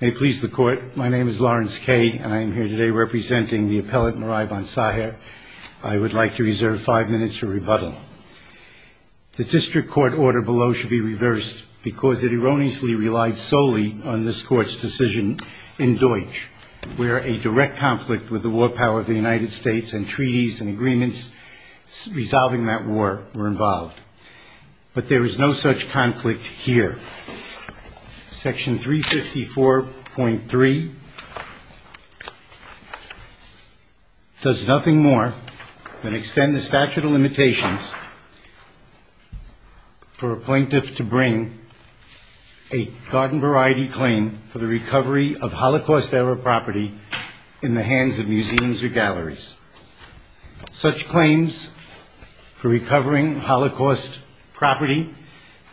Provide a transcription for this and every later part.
May it please the court, my name is Lawrence Kay and I am here today representing the appellate Marai von Saher. I would like to reserve five minutes for rebuttal. The district court order below should be reversed because it erroneously relied solely on this court's decision in Deutsch, where a direct conflict with the war power of the United States and treaties and agreements resolving that war were involved. But there is no such conflict here. Section 354.3 does nothing more than extend the statute of limitations for a plaintiff to bring a garden variety claim for the recovery of Holocaust-era property in the hands of museums or galleries. Such claims for recovering Holocaust property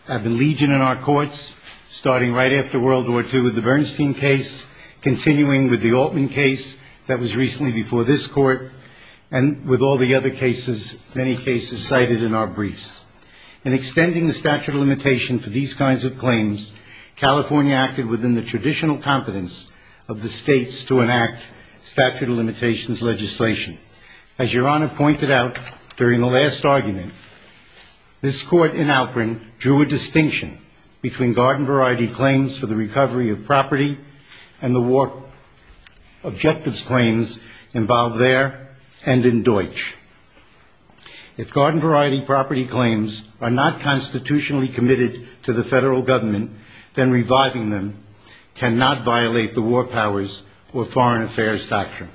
have been legion in our courts, starting right after World War II with the Bernstein case, continuing with the Altman case that was recently before this court, and with all the other cases, many cases cited in our briefs. In extending the statute of limitation for these kinds of claims, California acted within the traditional competence of the states to enact statute of limitations legislation. As Your Honor pointed out during the last argument, this court in Alperin drew a distinction between garden variety claims for the recovery of property and the war objectives claims involved there and in Deutsch. If garden variety property claims are not constitutionally committed to the federal government, then reviving them cannot violate the war powers or foreign affairs doctrine.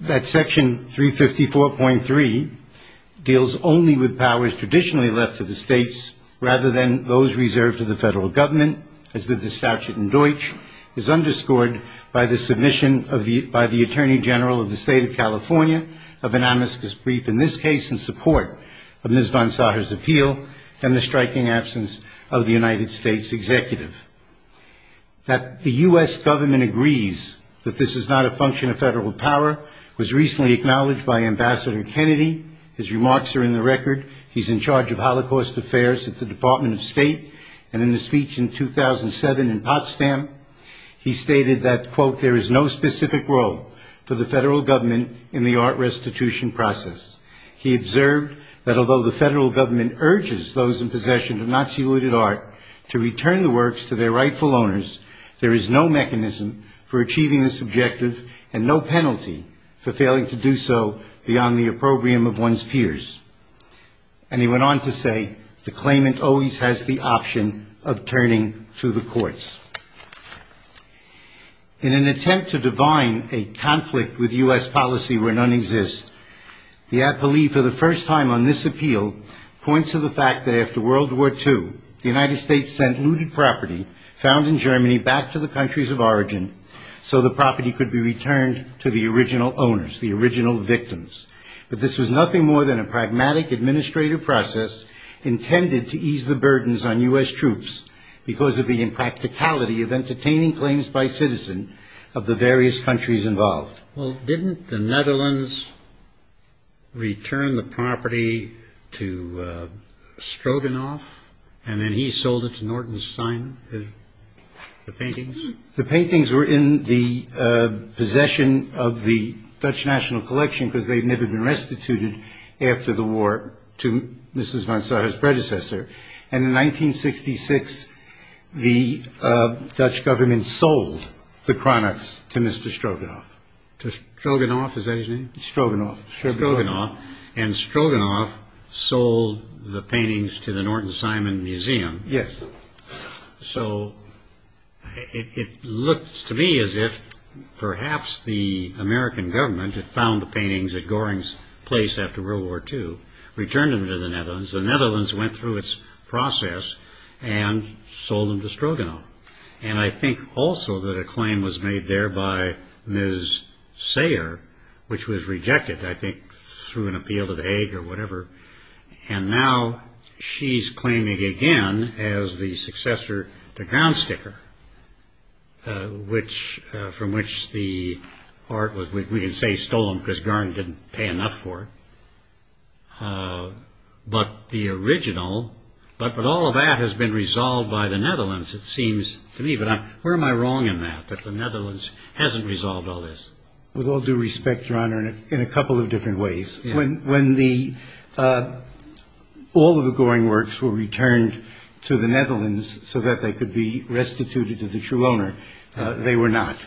That section 354.3 deals only with powers traditionally left to the states rather than those reserved to the federal government, as did the statute in Deutsch, is underscored by the submission by the Attorney General of the State of California of an amicus brief in this case in support of Ms. von Sacher's appeal and the striking absence of the United States Executive. That the U.S. government agrees that this is not a function of federal power was recently acknowledged by Ambassador Kennedy. His remarks are in the record. He's in charge of Holocaust affairs at the Department of State. And in a speech in 2007 in Potsdam, he stated that, quote, there is no specific role for the federal government in the art restitution process. He observed that although the federal government urges those in possession of Nazi looted art to return the works to their rightful owners, there is no mechanism for achieving this objective and no penalty for failing to do so beyond the opprobrium of one's peers. And he went on to say the claimant always has the option of turning to the courts. In an attempt to divine a conflict with U.S. policy where none exists, the appellee for the first time on this appeal points to the fact that after World War II, the United States sent looted property found in Germany back to the countries of origin so the property could be returned to the original owners, the original victims. But this was nothing more than a pragmatic administrative process intended to ease the burdens on U.S. troops because of the impracticality of entertaining claims by citizen of the various countries involved. Well, didn't the Netherlands return the property to Stroganoff, and then he sold it to Norton Stein, the paintings? The paintings were in the possession of the Dutch National Collection because they had never been restituted after the war to Mrs. Monsanto's predecessor. And in 1966, the Dutch government sold the products to Mr. Stroganoff. To Stroganoff, is that his name? Stroganoff. Stroganoff, and Stroganoff sold the paintings to the Norton Simon Museum. Yes. So, it looks to me as if perhaps the American government had found the paintings at Goring's place after World War II, returned them to the Netherlands. The Netherlands went through its process and sold them to Stroganoff. And I think also that a claim was made there by Ms. Sayer, which was rejected, I think, through an appeal to the Hague or whatever. And now she's claiming again as the successor to Garnsticker, from which the art was, we can say, stolen because Garn didn't pay enough for it. But the original, but all of that has been resolved by the Netherlands, it seems to me. But where am I wrong in that, that the Netherlands hasn't resolved all this? With all due respect, Your Honor, in a couple of different ways. When the, all of the Goring works were returned to the Netherlands so that they could be restituted to the true owner, they were not.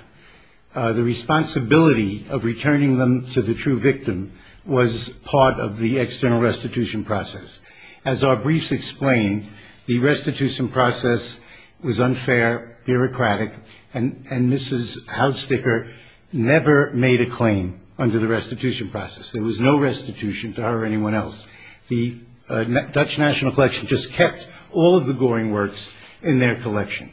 The responsibility of returning them to the true victim was part of the external restitution process. As our briefs explain, the restitution process was unfair, bureaucratic, and Mrs. Haudsticker never made a claim under the restitution process. There was no restitution to her or anyone else. The Dutch National Collection just kept all of the Goring works in their collection.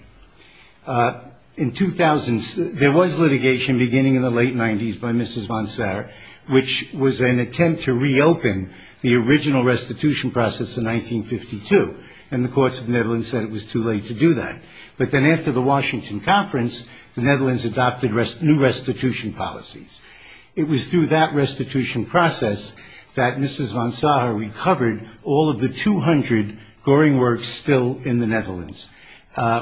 In 2000, there was litigation beginning in the late 90s by Mrs. van Saer, which was an attempt to reopen the original restitution process in 1952. And the courts of the Netherlands said it was too late to do that. But then after the Washington Conference, the Netherlands adopted new restitution policies. It was through that restitution process that Mrs. van Saer recovered all of the 200 Goring works still in the Netherlands,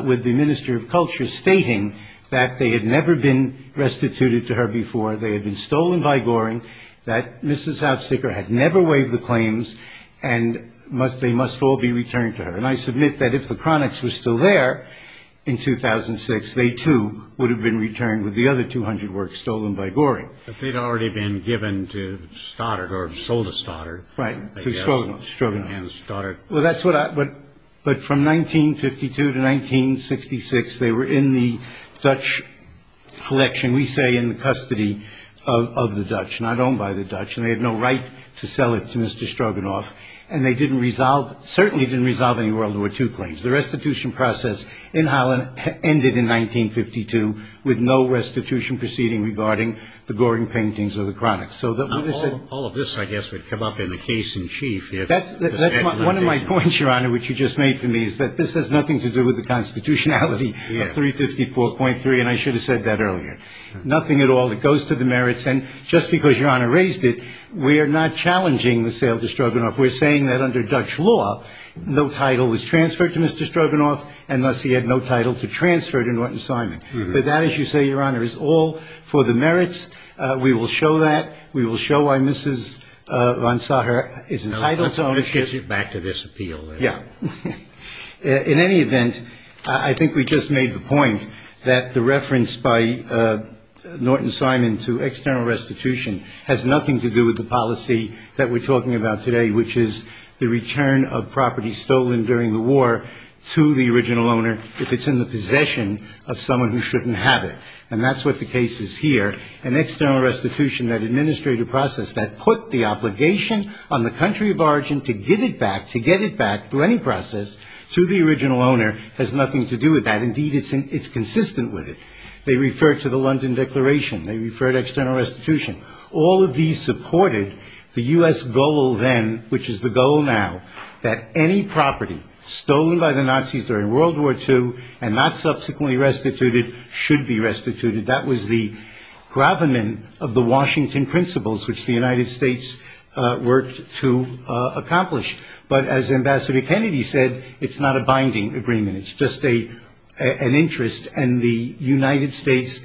with the Minister of Culture stating that they had never been restituted to her before, they had been stolen by Goring, that Mrs. Haudsticker had never waived the claims, and they must all be returned to her. And I submit that if the chronics were still there in 2006, they too would have been returned with the other 200 works stolen by Goring. But they'd already been given to Stoddard or sold to Stoddard. Right, to Stroganoff. But from 1952 to 1966, they were in the Dutch collection, we say in the custody of the Dutch, not owned by the Dutch, and they had no right to sell it to Mr. Stroganoff. And they certainly didn't resolve any World War II claims. The restitution process in Holland ended in 1952 with no restitution proceeding regarding the Goring paintings or the chronics. All of this, I guess, would come up in the case in chief. That's one of my points, Your Honor, which you just made for me, is that this has nothing to do with the constitutionality of 354.3, and I should have said that earlier. Nothing at all that goes to the merits. And just because Your Honor raised it, we are not challenging the sale to Stroganoff. We're saying that under Dutch law, no title was transferred to Mr. Stroganoff, and thus he had no title to transfer to Norton Simon. But that, as you say, Your Honor, is all for the merits. We will show that. We will show why Mrs. von Sacher is entitled to ownership. Let's get back to this appeal. Yeah. In any event, I think we just made the point that the reference by Norton Simon to external restitution has nothing to do with the policy that we're talking about today, which is the return of property stolen during the war to the original owner if it's in the possession of someone who shouldn't have it. And that's what the case is here. An external restitution, that administrative process that put the obligation on the country of origin to get it back, to get it back through any process to the original owner, has nothing to do with that. Indeed, it's consistent with it. They refer to the London Declaration. They refer to external restitution. All of these supported the U.S. goal then, which is the goal now, that any property stolen by the Nazis during World War II and not subsequently restituted should be restituted. That was the gravamen of the Washington principles, which the United States worked to accomplish. But as Ambassador Kennedy said, it's not a binding agreement. It's just an interest, and the United States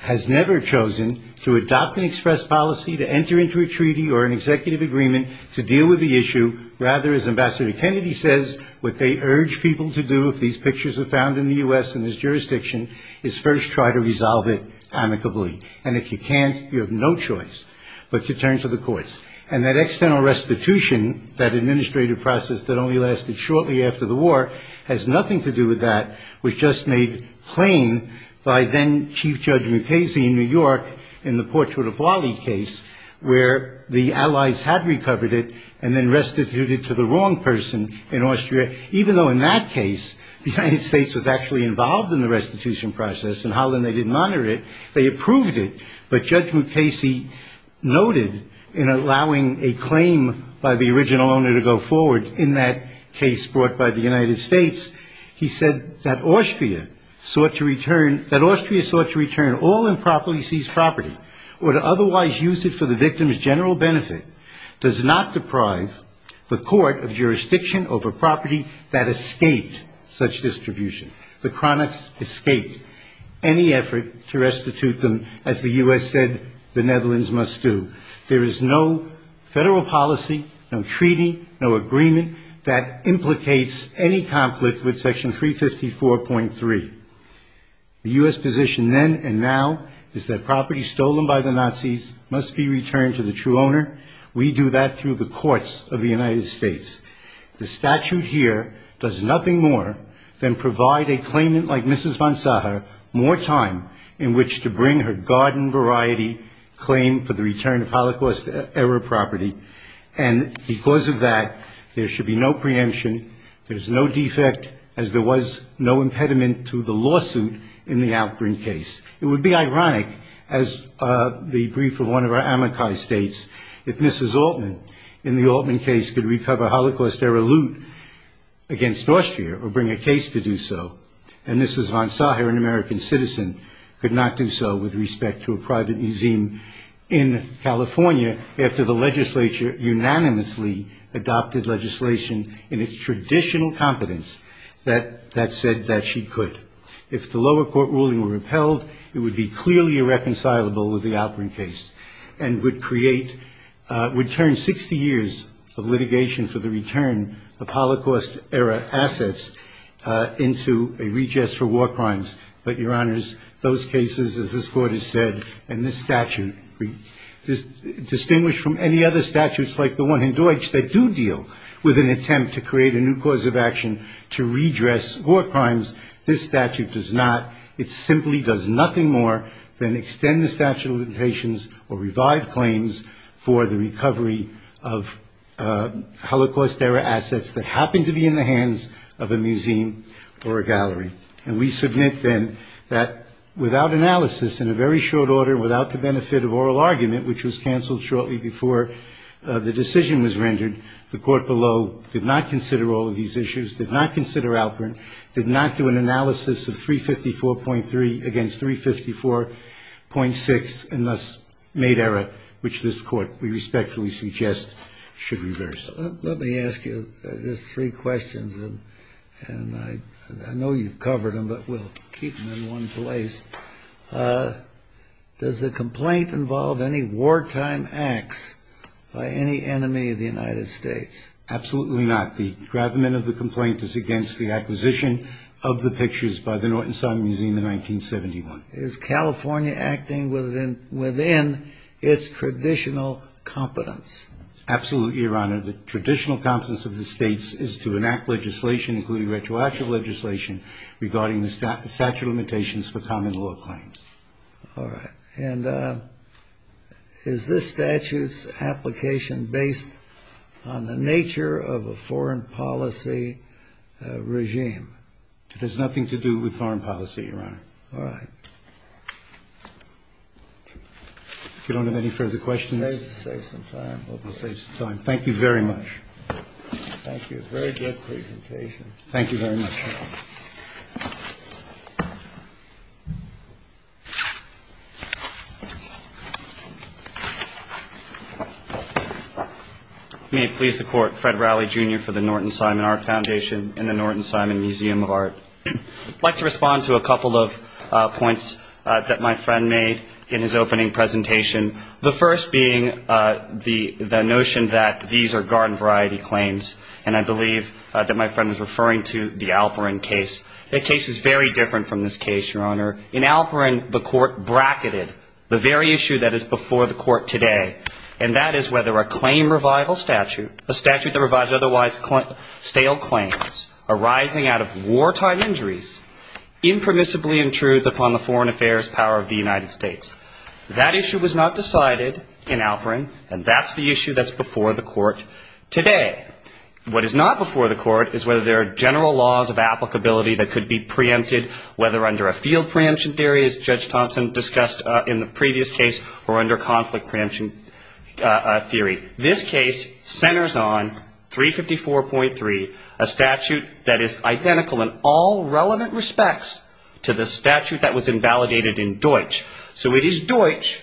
has never chosen to adopt an express policy, to enter into a treaty or an executive agreement to deal with the issue. Rather, as Ambassador Kennedy says, what they urge people to do if these pictures are found in the U.S. in this jurisdiction is first try to resolve it amicably. And if you can't, you have no choice but to turn to the courts. And that external restitution, that administrative process that only lasted shortly after the war, has nothing to do with that, which just made claim by then-Chief Judge Mukasey in New York in the Portrait of Wally case where the Allies had recovered it and then restituted to the wrong person in Austria. Even though in that case the United States was actually involved in the restitution process and how then they didn't honor it, they approved it. But Judge Mukasey noted in allowing a claim by the original owner to go forward in that case brought by the United States, he said that Austria sought to return all improperly seized property or to otherwise use it for the victim's general benefit, does not deprive the court of jurisdiction over property that escaped such distribution. The cronies escaped any effort to restitute them as the U.S. said the Netherlands must do. There is no federal policy, no treaty, no agreement that implicates any conflict with Section 354.3. The U.S. position then and now is that property stolen by the Nazis must be returned to the true owner. We do that through the courts of the United States. The statute here does nothing more than provide a claimant like Mrs. von Sacher more time in which to bring her garden variety claim for the return of Holocaust-era property. And because of that, there should be no preemption, there's no defect, as there was no impediment to the lawsuit in the Alcorn case. It would be ironic, as the brief of one of our amici states, if Mrs. Altman in the Altman case could recover Holocaust-era loot against Austria or bring a case to do so. And Mrs. von Sacher, an American citizen, could not do so with respect to a private museum in California after the legislature unanimously adopted legislation in its traditional competence that said that she could. If the lower court ruling were repelled, it would be clearly irreconcilable with the Alcorn case and would create, would turn 60 years of litigation for the return of Holocaust-era assets into a redress for war crimes. But, Your Honors, those cases, as this court has said, and this statute, distinguished from any other statutes like the one in Deutsch that do deal with an attempt to create a new cause of action to redress war crimes, this statute does not. It simply does nothing more than extend the statute of limitations or revive claims for the recovery of Holocaust-era assets that happen to be in the hands of a museum or a gallery. And we submit, then, that without analysis, in a very short order, without the benefit of oral argument, which was canceled shortly before the decision was rendered, the court below did not consider all of these issues, did not consider Alcorn, did not do an analysis of 354.3 against 354.6, and thus made error which this court, we respectfully suggest, should reverse. Let me ask you just three questions, and I know you've covered them, but we'll keep them in one place. Does the complaint involve any wartime acts by any enemy of the United States? Absolutely not. The engravement of the complaint is against the acquisition of the pictures by the Norton Simon Museum in 1971. Is California acting within its traditional competence? Absolutely, Your Honor. The traditional competence of the states is to enact legislation, including retroactive legislation, regarding the statute of limitations for common law claims. All right. And is this statute's application based on the nature of a foreign policy regime? It has nothing to do with foreign policy, Your Honor. All right. If you don't have any further questions. Save some time. We'll save some time. Thank you very much. Thank you. Very good presentation. Thank you very much. May it please the Court, Fred Rowley, Jr., for the Norton Simon Art Foundation and the Norton Simon Museum of Art. I'd like to respond to a couple of points that my friend made in his opening presentation, the first being the notion that these are garden variety claims, and I believe that my friend was referring to the Alperin case. That case is very different from this case, Your Honor. In Alperin, the Court bracketed the very issue that is before the Court today, and that is whether a claim revival statute, a statute that revived otherwise stale claims, arising out of wartime injuries, impermissibly intrudes upon the foreign affairs power of the United States. That issue was not decided in Alperin, and that's the issue that's before the Court today. What is not before the Court is whether there are general laws of applicability that could be preempted, whether under a field preemption theory, as Judge Thompson discussed in the previous case, or under conflict preemption theory. This case centers on 354.3, a statute that is identical in all relevant respects to the statute that was invalidated in Deutsch. So it is Deutsch,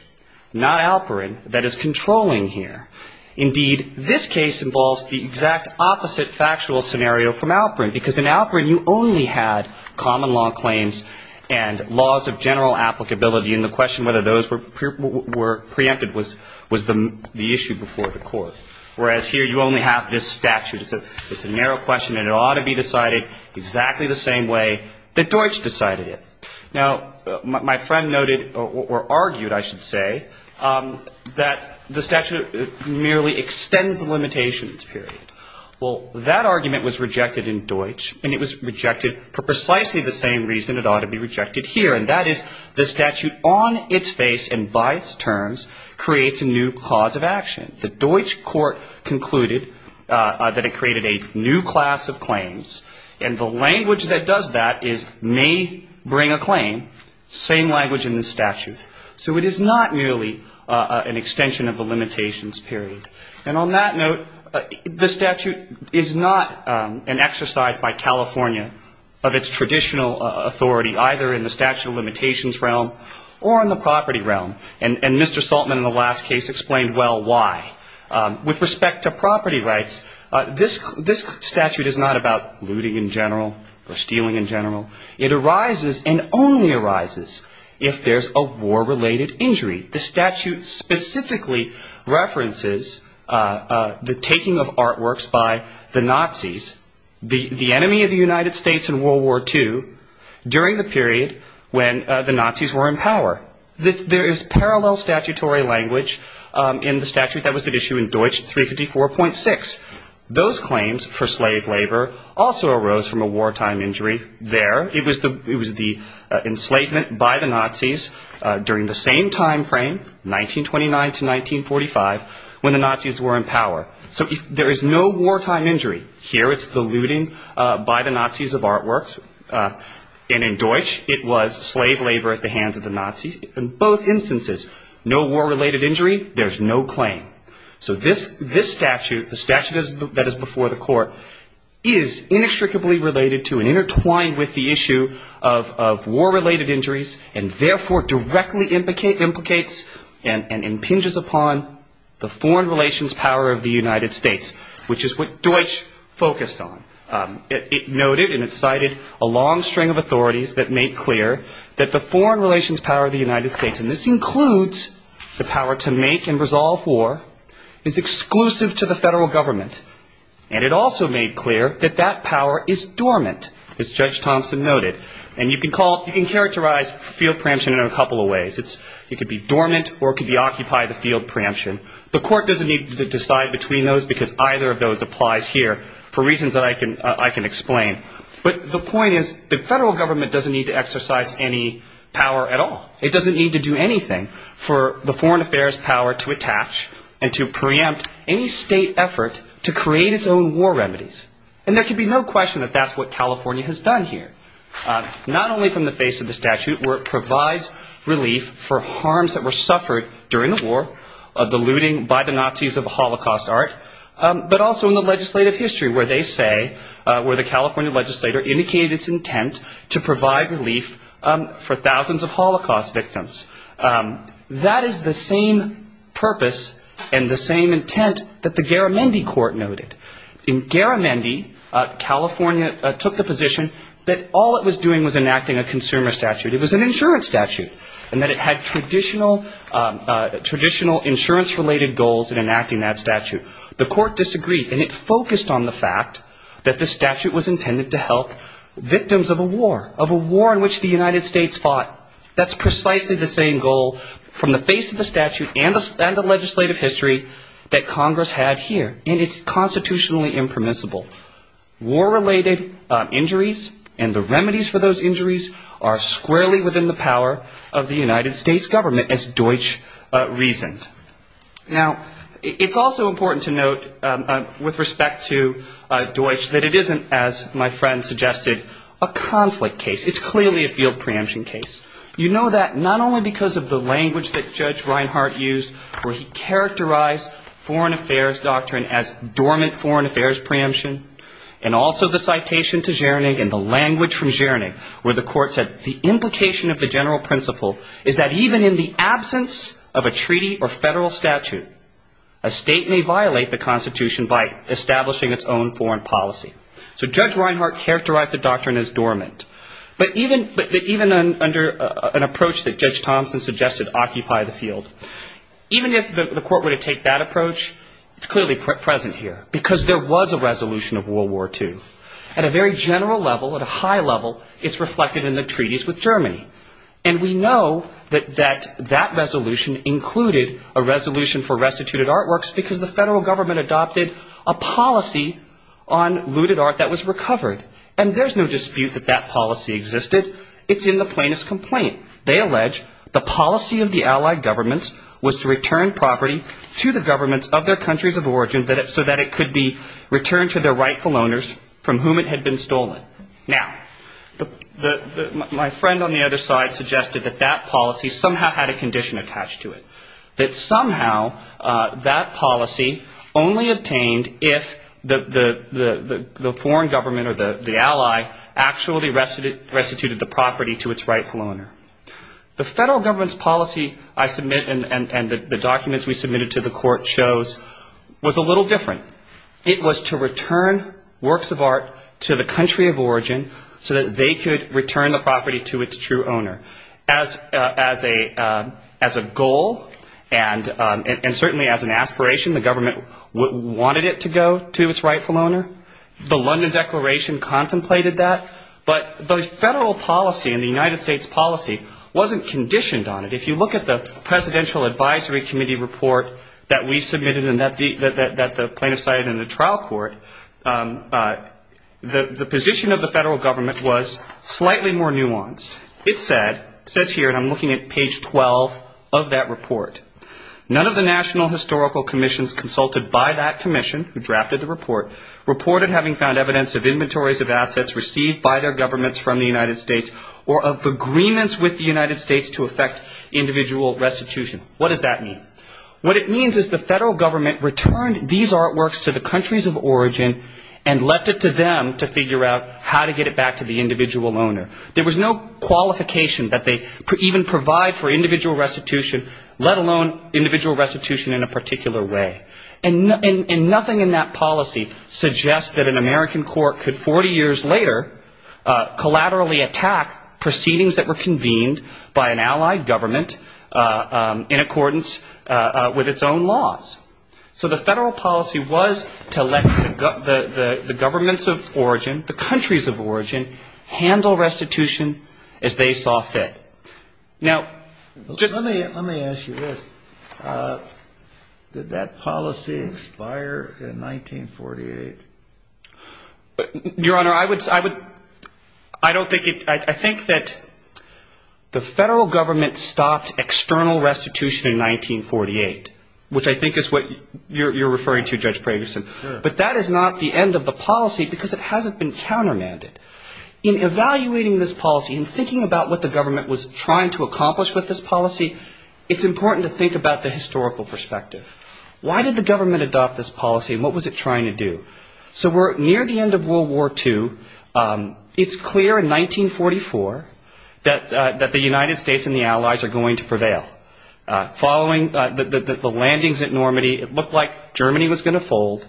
not Alperin, that is controlling here. Indeed, this case involves the exact opposite factual scenario from Alperin, because in Alperin you only had common law claims and laws of general applicability, and the question whether those were preempted was the issue before the Court, whereas here you only have this statute. It's a narrow question, and it ought to be decided exactly the same way that Deutsch decided it. Now, my friend noted, or argued, I should say, that the statute merely extends the limitations period. Well, that argument was rejected in Deutsch, and it was rejected for precisely the same reason it ought to be rejected here, and that is the statute on its face and by its terms creates a new cause of action. The Deutsch court concluded that it created a new class of claims, and the language that does that is may bring a claim, same language in the statute. So it is not merely an extension of the limitations period. And on that note, the statute is not an exercise by California of its traditional authority, either in the statute of limitations realm or in the property realm, and Mr. Saltman in the last case explained well why. With respect to property rights, this statute is not about looting in general or stealing in general. It arises and only arises if there's a war-related injury. The statute specifically references the taking of artworks by the Nazis, the enemy of the United States in World War II, during the period when the Nazis were in power. There is parallel statutory language in the statute that was at issue in Deutsch 354.6. Those claims for slave labor also arose from a wartime injury there. It was the enslavement by the Nazis during the same time frame, 1929 to 1945, when the Nazis were in power. So there is no wartime injury. Here it's the looting by the Nazis of artworks, and in Deutsch it was slave labor at the hands of the Nazis. In both instances, no war-related injury, there's no claim. So this statute, the statute that is before the court, is inextricably related to and intertwined with the issue of war-related injuries, and therefore directly implicates and impinges upon the foreign relations power of the United States, which is what Deutsch focused on. It noted and it cited a long string of authorities that make clear that the foreign relations power of the United States, and this includes the power to make and resolve war, is exclusive to the federal government, and it also made clear that that power is dormant, as Judge Thompson noted. And you can characterize field preemption in a couple of ways. It could be dormant or it could be occupy the field preemption. The court doesn't need to decide between those because either of those applies here for reasons that I can explain. But the point is the federal government doesn't need to exercise any power at all. It doesn't need to do anything for the foreign affairs power to attach and to preempt any state effort to create its own war remedies. And there can be no question that that's what California has done here, not only from the face of the statute where it provides relief for harms that were suffered during the war, the looting by the Nazis of Holocaust art, but also in the legislative history where they say, where the California legislator indicated its intent to provide relief for thousands of Holocaust victims. That is the same purpose and the same intent that the Garamendi Court noted. In Garamendi, California took the position that all it was doing was enacting a consumer statute. It was an insurance statute, and that it had traditional insurance-related goals in enacting that statute. The court disagreed, and it focused on the fact that the statute was intended to help victims of a war, of a war in which the United States fought. That's precisely the same goal from the face of the statute and the legislative history that Congress had here, and it's constitutionally impermissible. War-related injuries and the remedies for those injuries are squarely within the power of the United States government, as Deutsch reasoned. Now, it's also important to note, with respect to Deutsch, that it isn't, as my friend suggested, a conflict case. It's clearly a field preemption case. You know that not only because of the language that Judge Reinhardt used, where he characterized foreign affairs doctrine as dormant foreign affairs preemption, and also the citation to Zscherning and the language from Zscherning where the court said, the implication of the general principle is that even in the absence of a treaty or federal statute, a state may violate the Constitution by establishing its own foreign policy. So Judge Reinhardt characterized the doctrine as dormant. But even under an approach that Judge Thompson suggested occupied the field, even if the court were to take that approach, it's clearly present here, because there was a resolution of World War II. At a very general level, at a high level, it's reflected in the treaties with Germany. And we know that that resolution included a resolution for restituted artworks, because the federal government adopted a policy on looted art that was recovered. And there's no dispute that that policy existed. It's in the plaintiff's complaint. They allege the policy of the Allied governments was to return property to the governments of their countries of origin so that it could be returned to their rightful owners from whom it had been stolen. Now, my friend on the other side suggested that that policy somehow had a condition attached to it, that somehow that policy only obtained if the foreign government or the ally actually restituted the property to its rightful owner. The federal government's policy I submit and the documents we submitted to the court shows was a little different. It was to return works of art to the country of origin so that they could return the property to its true owner. As a goal and certainly as an aspiration, the government wanted it to go to its rightful owner. The London Declaration contemplated that. But the federal policy and the United States policy wasn't conditioned on it. If you look at the Presidential Advisory Committee report that we submitted and that the plaintiffs cited in the trial court, the position of the federal government was slightly more nuanced. It says here, and I'm looking at page 12 of that report, none of the national historical commissions consulted by that commission who drafted the report reported having found evidence of inventories of assets received by their governments from the United States or of agreements with the United States to effect individual restitution. What does that mean? What it means is the federal government returned these artworks to the countries of origin and left it to them to figure out how to get it back to the individual owner. There was no qualification that they even provide for individual restitution, let alone individual restitution in a particular way. And nothing in that policy suggests that an American court could 40 years later collaterally attack proceedings that were convened by an allied government in accordance with its own laws. So the federal policy was to let the governments of origin, the countries of origin, handle restitution as they saw fit. Now, let me ask you this. Did that policy expire in 1948? Your Honor, I would, I don't think, I think that the federal government stopped external restitution in 1948, which I think is what you're referring to, Judge Pragerson. Sure. But that is not the end of the policy because it hasn't been countermanded. In evaluating this policy and thinking about what the government was trying to accomplish with this policy, it's important to think about the historical perspective. Why did the government adopt this policy and what was it trying to do? So we're near the end of World War II. It's clear in 1944 that the United States and the allies are going to prevail. Following the landings at Normandy, it looked like Germany was going to fold,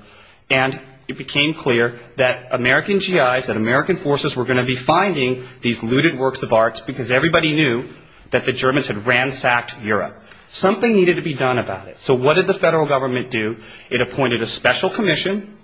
and it became clear that American GIs and American forces were going to be finding these looted works of art because everybody knew that the Germans had ransacked Europe. Something needed to be done about it. So what did the federal government do? It appointed a special commission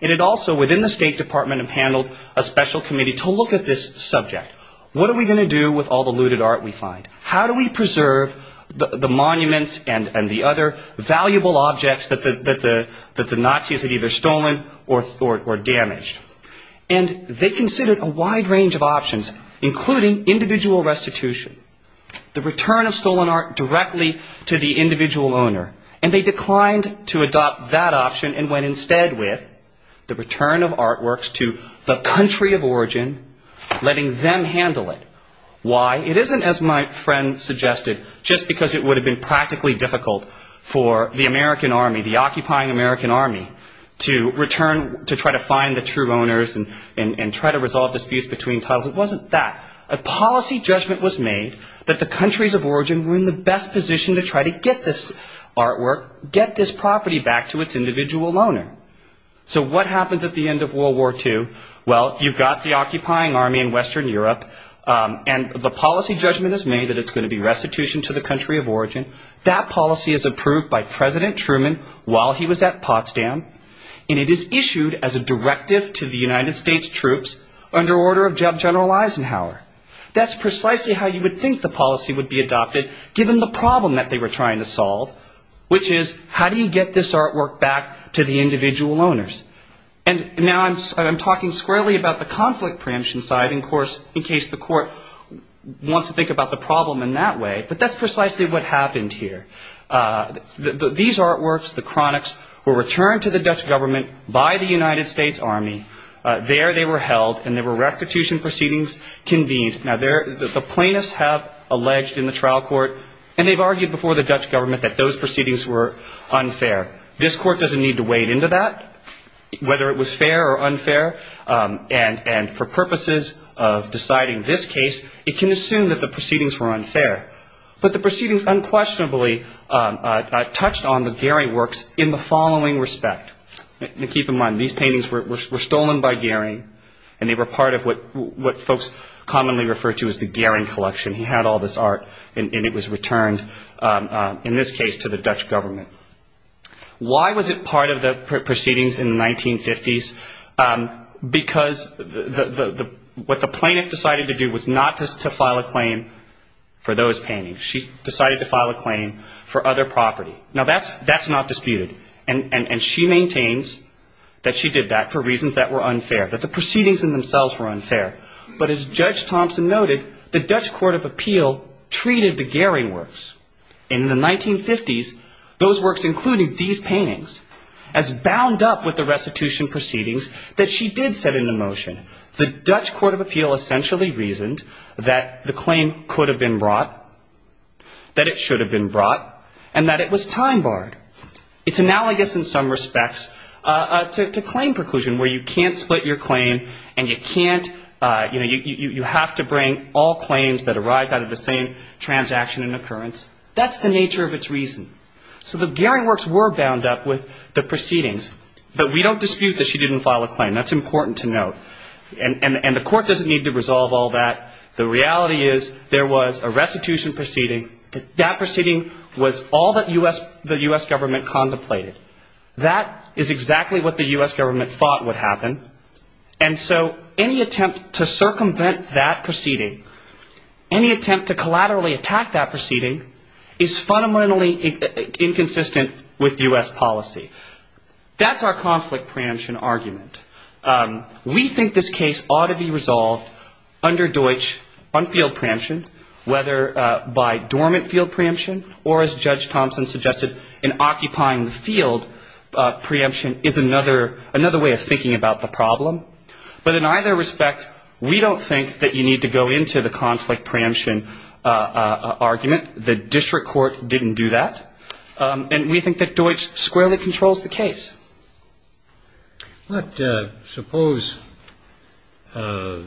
and it also, within the State Department, appaneled a special committee to look at this subject. What are we going to do with all the looted art we find? How do we preserve the monuments and the other valuable objects that the Nazis had either stolen or damaged? And they considered a wide range of options, including individual restitution, the return of stolen art directly to the individual owner. And they declined to adopt that option and went instead with the return of artworks to the country of origin, letting them handle it. Why? It isn't, as my friend suggested, just because it would have been practically difficult for the American Army, the occupying American Army, to return to try to find the true owners and try to resolve disputes between titles. It wasn't that. A policy judgment was made that the countries of origin were in the best position to try to get this artwork, get this property back to its individual owner. So what happens at the end of World War II? Well, you've got the occupying army in Western Europe, and the policy judgment is made that it's going to be restitution to the country of origin. That policy is approved by President Truman while he was at Potsdam, and it is issued as a directive to the United States troops under order of General Eisenhower. That's precisely how you would think the policy would be adopted, given the problem that they were trying to solve, which is how do you get this artwork back to the individual owners? And now I'm talking squarely about the conflict preemption side, of course, in case the court wants to think about the problem in that way, but that's precisely what happened here. These artworks, the chronics, were returned to the Dutch government by the United States Army. There they were held, and there were restitution proceedings convened. Now, the plaintiffs have alleged in the trial court, and they've argued before the Dutch government that those proceedings were unfair. This court doesn't need to wade into that, whether it was fair or unfair, and for purposes of deciding this case, it can assume that the proceedings were unfair. But the proceedings unquestionably touched on the Gehry works in the following respect. Keep in mind, these paintings were stolen by Gehry, and they were part of what folks commonly refer to as the Gehry collection. He had all this art, and it was returned, in this case, to the Dutch government. Why was it part of the proceedings in the 1950s? Because what the plaintiff decided to do was not to file a claim for those paintings. She decided to file a claim for other property. Now, that's not disputed, and she maintains that she did that for reasons that were unfair, that the proceedings in themselves were unfair. But as Judge Thompson noted, the Dutch court of appeal treated the Gehry works in the 1950s, those works including these paintings, as bound up with the restitution proceedings that she did set into motion. The Dutch court of appeal essentially reasoned that the claim could have been brought, that it should have been brought, and that it was time-barred. It's analogous in some respects to claim preclusion, where you can't split your claim and you can't, you know, you have to bring all claims that arise out of the same transaction and occurrence. That's the nature of its reason. So the Gehry works were bound up with the proceedings. But we don't dispute that she didn't file a claim. That's important to note. And the court doesn't need to resolve all that. The reality is there was a restitution proceeding. That proceeding was all that the U.S. government contemplated. That is exactly what the U.S. government thought would happen. And so any attempt to circumvent that proceeding, any attempt to collaterally attack that proceeding, is fundamentally inconsistent with U.S. policy. That's our conflict preemption argument. We think this case ought to be resolved under Deutsch on field preemption, whether by dormant field preemption or, as Judge Thompson suggested, in occupying the field preemption is another way of thinking about the problem. But in either respect, we don't think that you need to go into the conflict preemption argument. The district court didn't do that. And we think that Deutsch squarely controls the case. Let's suppose in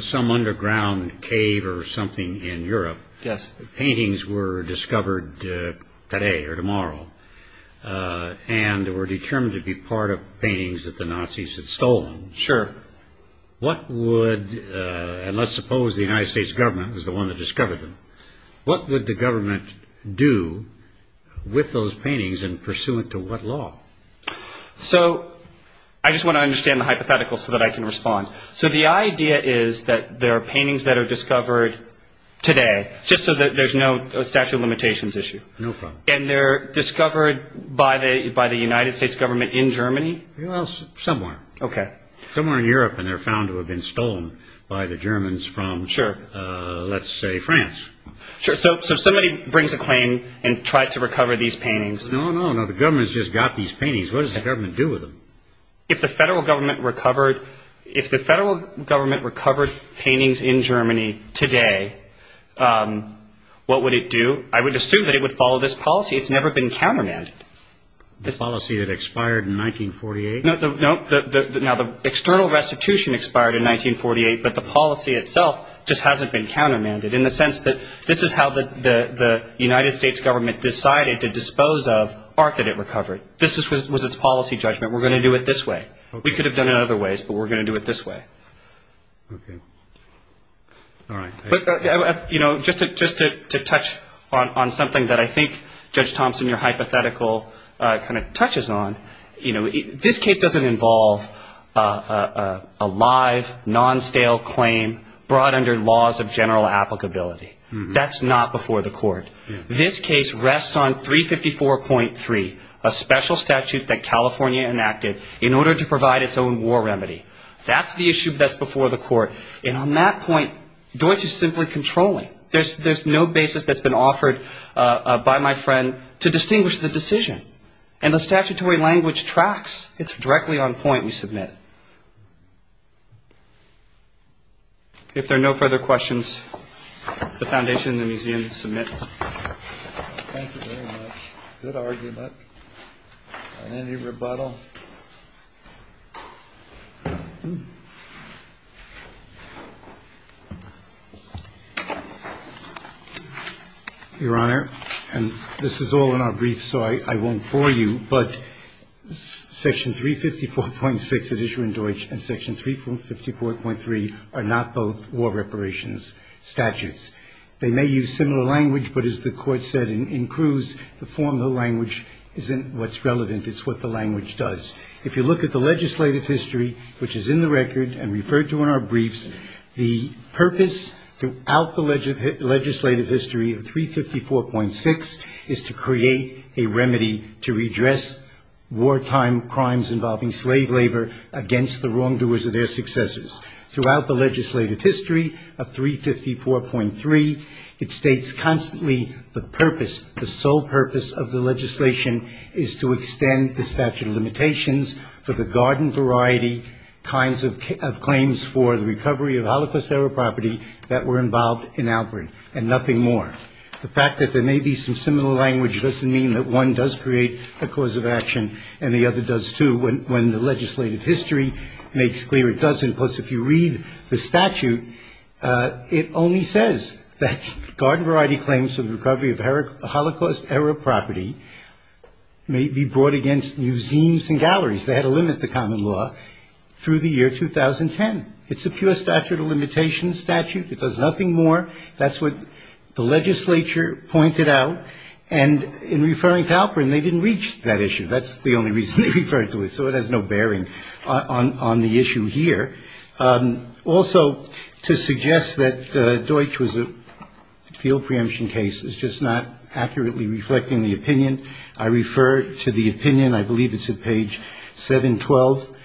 some underground cave or something in Europe, paintings were discovered today or tomorrow, and were determined to be part of paintings that the Nazis had stolen. Sure. What would, and let's suppose the United States government was the one that discovered them, what would the government do with those paintings and pursuant to what law? So I just want to understand the hypothetical so that I can respond. So the idea is that there are paintings that are discovered today, just so that there's no statute of limitations issue. No problem. And they're discovered by the United States government in Germany? Well, somewhere. Okay. Somewhere in Europe, and they're found to have been stolen by the Germans from, let's say, France. Sure. So somebody brings a claim and tries to recover these paintings. No, no, no. The government's just got these paintings. What does the government do with them? If the federal government recovered paintings in Germany today, what would it do? I would assume that it would follow this policy. It's never been countermanded. This policy that expired in 1948? Now, the external restitution expired in 1948, but the policy itself just hasn't been countermanded in the sense that this is how the United States government decided to dispose of art that it recovered. This was its policy judgment. We're going to do it this way. We could have done it other ways, but we're going to do it this way. Okay. All right. But, you know, just to touch on something that I think, Judge Thompson, your hypothetical kind of touches on, you know, this case doesn't involve a live, non-stale claim brought under laws of general applicability. That's not before the court. This case rests on 354.3, a special statute that California enacted in order to provide its own war remedy. And on that point, Deutsch is simply controlling. There's no basis that's been offered by my friend to distinguish the decision. And the statutory language tracks. It's directly on point we submit. If there are no further questions, the Foundation and the Museum submit. Thank you very much. Good argument. Any rebuttal? Your Honor, and this is all in our brief, so I won't bore you, but Section 354.6, an issue in Deutsch, and Section 354.3 are not both war reparations statutes. They may use similar language, but as the Court said in Cruz, the formal language isn't what's relevant. It's what the language does. If you look at the legislative history, which is in the record and referred to in our briefs, the purpose throughout the legislative history of 354.6 is to create a remedy to redress wartime crimes involving slave labor against the wrongdoers of their successors. Throughout the legislative history of 354.3, it states constantly the purpose, the sole purpose of the legislation is to extend the statute of limitations for the garden variety kinds of claims for the recovery of Holocaust-era property that were involved in Albury and nothing more. The fact that there may be some similar language doesn't mean that one does create a cause of action and the other does, too, when the legislative history makes clear it doesn't. Plus, if you read the statute, it only says that garden variety claims for the recovery of Holocaust-era property may be brought against museums and galleries. They had to limit the common law through the year 2010. It's a pure statute of limitations statute. It does nothing more. That's what the legislature pointed out. And in referring to Albury, they didn't reach that issue. That's the only reason they referred to it, so it has no bearing on the issue here. Also, to suggest that Deutsch was a field preemption case is just not accurately reflecting the opinion. I refer to the opinion. I believe it's at page 712.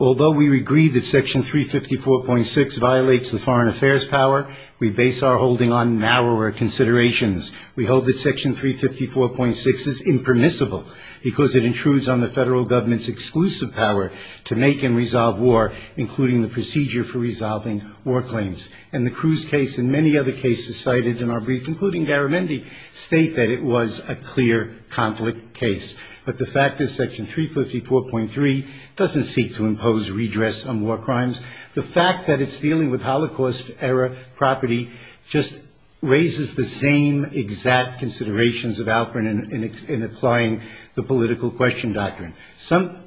Although we agree that Section 354.6 violates the foreign affairs power, we base our holding on narrower considerations. We hold that Section 354.6 is impermissible because it intrudes on the federal government's exclusive power to make and resolve war, including the procedure for resolving war claims. And the Cruz case and many other cases cited in our brief, including Garamendi, state that it was a clear conflict case. But the fact is Section 354.3 doesn't seek to impose redress on war crimes. The fact that it's dealing with Holocaust-era property just raises the same exact considerations of Alcorn in applying the political question doctrine.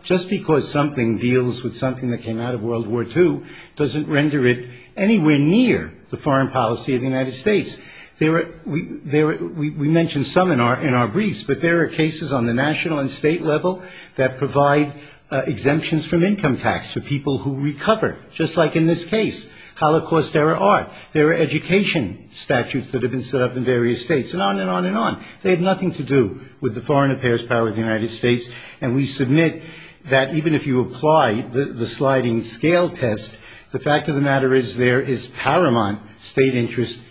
Just because something deals with something that came out of World War II doesn't render it anywhere near the foreign policy of the United States. We mentioned some in our briefs, but there are cases on the national and state level that provide exemptions from income tax for people who recover, just like in this case, Holocaust-era art. There are education statutes that have been set up in various states, and on and on and on. They have nothing to do with the foreign affairs power of the United States. And we submit that even if you apply the sliding scale test, the fact of the matter is there is paramount state interest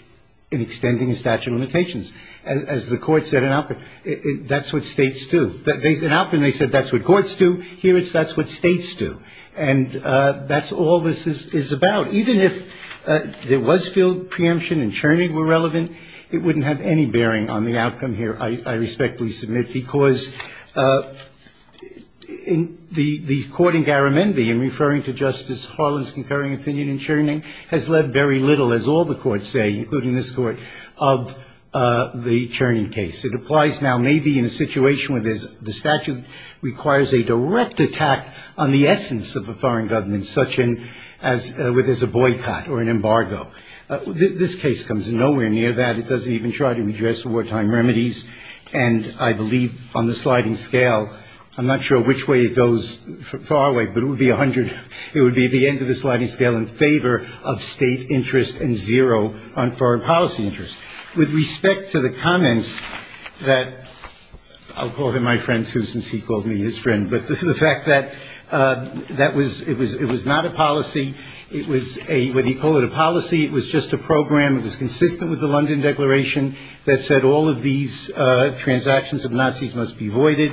in extending statute of limitations. As the Court said in Alcorn, that's what states do. In Alcorn they said that's what courts do. Here it's that's what states do. And that's all this is about. Even if there was field preemption and churning were relevant, it wouldn't have any bearing on the outcome here, I respectfully submit, because the court in Garamendi in referring to Justice Harlan's concurring opinion in churning has led very little, as all the courts say, including this Court, of the churning case. It applies now maybe in a situation where the statute requires a direct attack on the essence of a foreign government, such as where there's a boycott or an embargo. This case comes nowhere near that. It doesn't even try to address wartime remedies. And I believe on the sliding scale, I'm not sure which way it goes far away, but it would be 100. It would be the end of the sliding scale in favor of state interest and zero on foreign policy interest. With respect to the comments that I'll call him my friend, too, since he called me his friend, but the fact that it was not a policy. It was a, whether you call it a policy, it was just a program. It was consistent with the London Declaration that said all of these transactions of Nazis must be voided.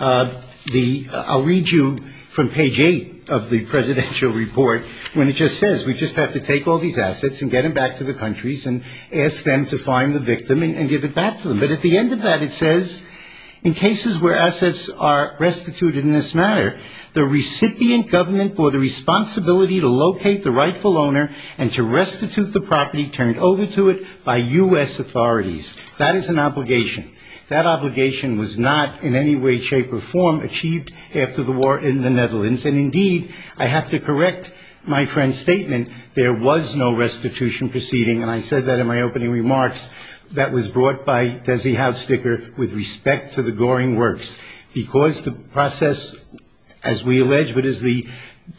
I'll read you from page 8 of the presidential report when it just says we just have to take all these assets and get them back to the countries and ask them to find the victim and give it back to them. But at the end of that, it says, in cases where assets are restituted in this matter, the recipient government bore the responsibility to locate the rightful owner and to restitute the property turned over to it by U.S. authorities. That is an obligation. That obligation was not in any way, shape, or form achieved after the war in the Netherlands. And, indeed, I have to correct my friend's statement. There was no restitution proceeding, and I said that in my opening remarks, that was brought by Desi Houtstikker with respect to the Goring Works. Because the process, as we allege, but as the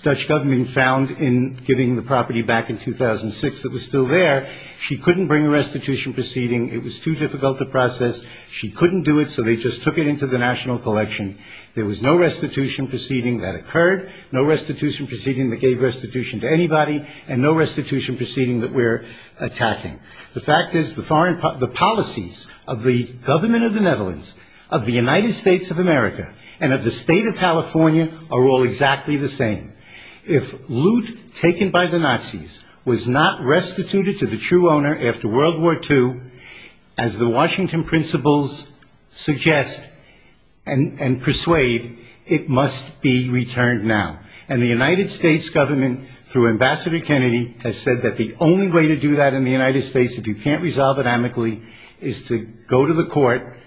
Dutch government found in giving the property back in 2006 that was still there, she couldn't bring a restitution proceeding. It was too difficult a process. She couldn't do it, so they just took it into the national collection. There was no restitution proceeding that occurred, no restitution proceeding that gave restitution to anybody, and no restitution proceeding that we're attacking. The fact is the policies of the government of the Netherlands, of the United States of America, and of the state of California are all exactly the same. If loot taken by the Nazis was not restituted to the true owner after World War II, as the Washington principles suggest and persuade, it must be returned now. And the United States government, through Ambassador Kennedy, has said that the only way to do that in the United States, if you can't resolve it amicably, is to go to the court,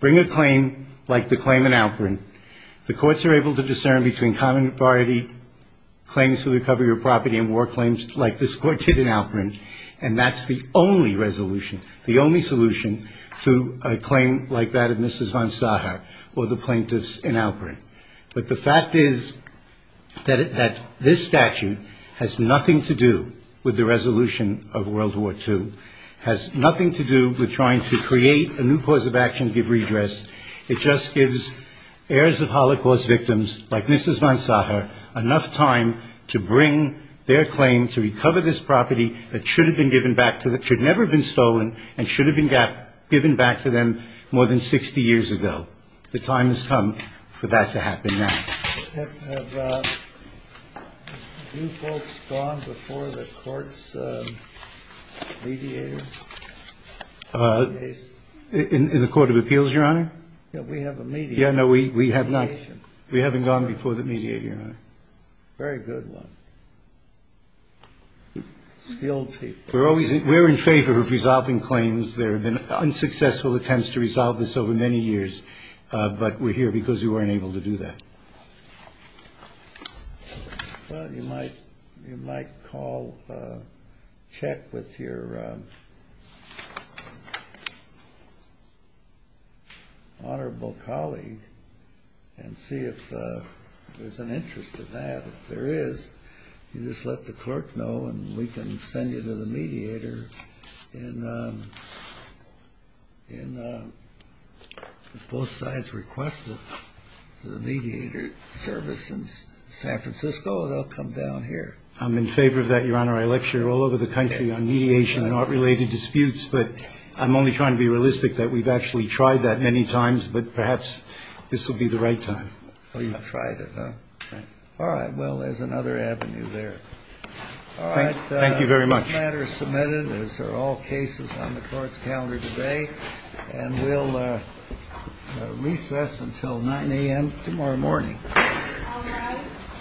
bring a claim like the claim in Alperin. The courts are able to discern between common authority claims for the recovery of property and war claims like this court did in Alperin, and that's the only resolution. The only solution to a claim like that of Mrs. von Sacher or the plaintiffs in Alperin. But the fact is that this statute has nothing to do with the resolution of World War II, has nothing to do with trying to create a new cause of action to give redress. It just gives heirs of Holocaust victims like Mrs. von Sacher enough time to bring their claim to recover this property that should have never been stolen and should have been given back to them more than 60 years ago. The time has come for that to happen now. Have you folks gone before the court's mediators? In the Court of Appeals, Your Honor? Yeah, we have a mediator. Yeah, no, we have not. We haven't gone before the mediator, Your Honor. Very good one. Skilled people. We're in favor of resolving claims. There have been unsuccessful attempts to resolve this over many years, but we're here because we weren't able to do that. Well, you might call, check with your honorable colleague and see if there's an interest in that. If there is, you just let the clerk know and we can send you to the mediator and if both sides request the mediator service in San Francisco, they'll come down here. I'm in favor of that, Your Honor. I lecture all over the country on mediation and art-related disputes, but I'm only trying to be realistic that we've actually tried that many times, but perhaps this will be the right time. Well, you've tried it, huh? Right. All right. Well, there's another avenue there. All right. Thank you very much. This matter is submitted as are all cases on the court's calendar today and we'll recess until 9 a.m. tomorrow morning. All rise.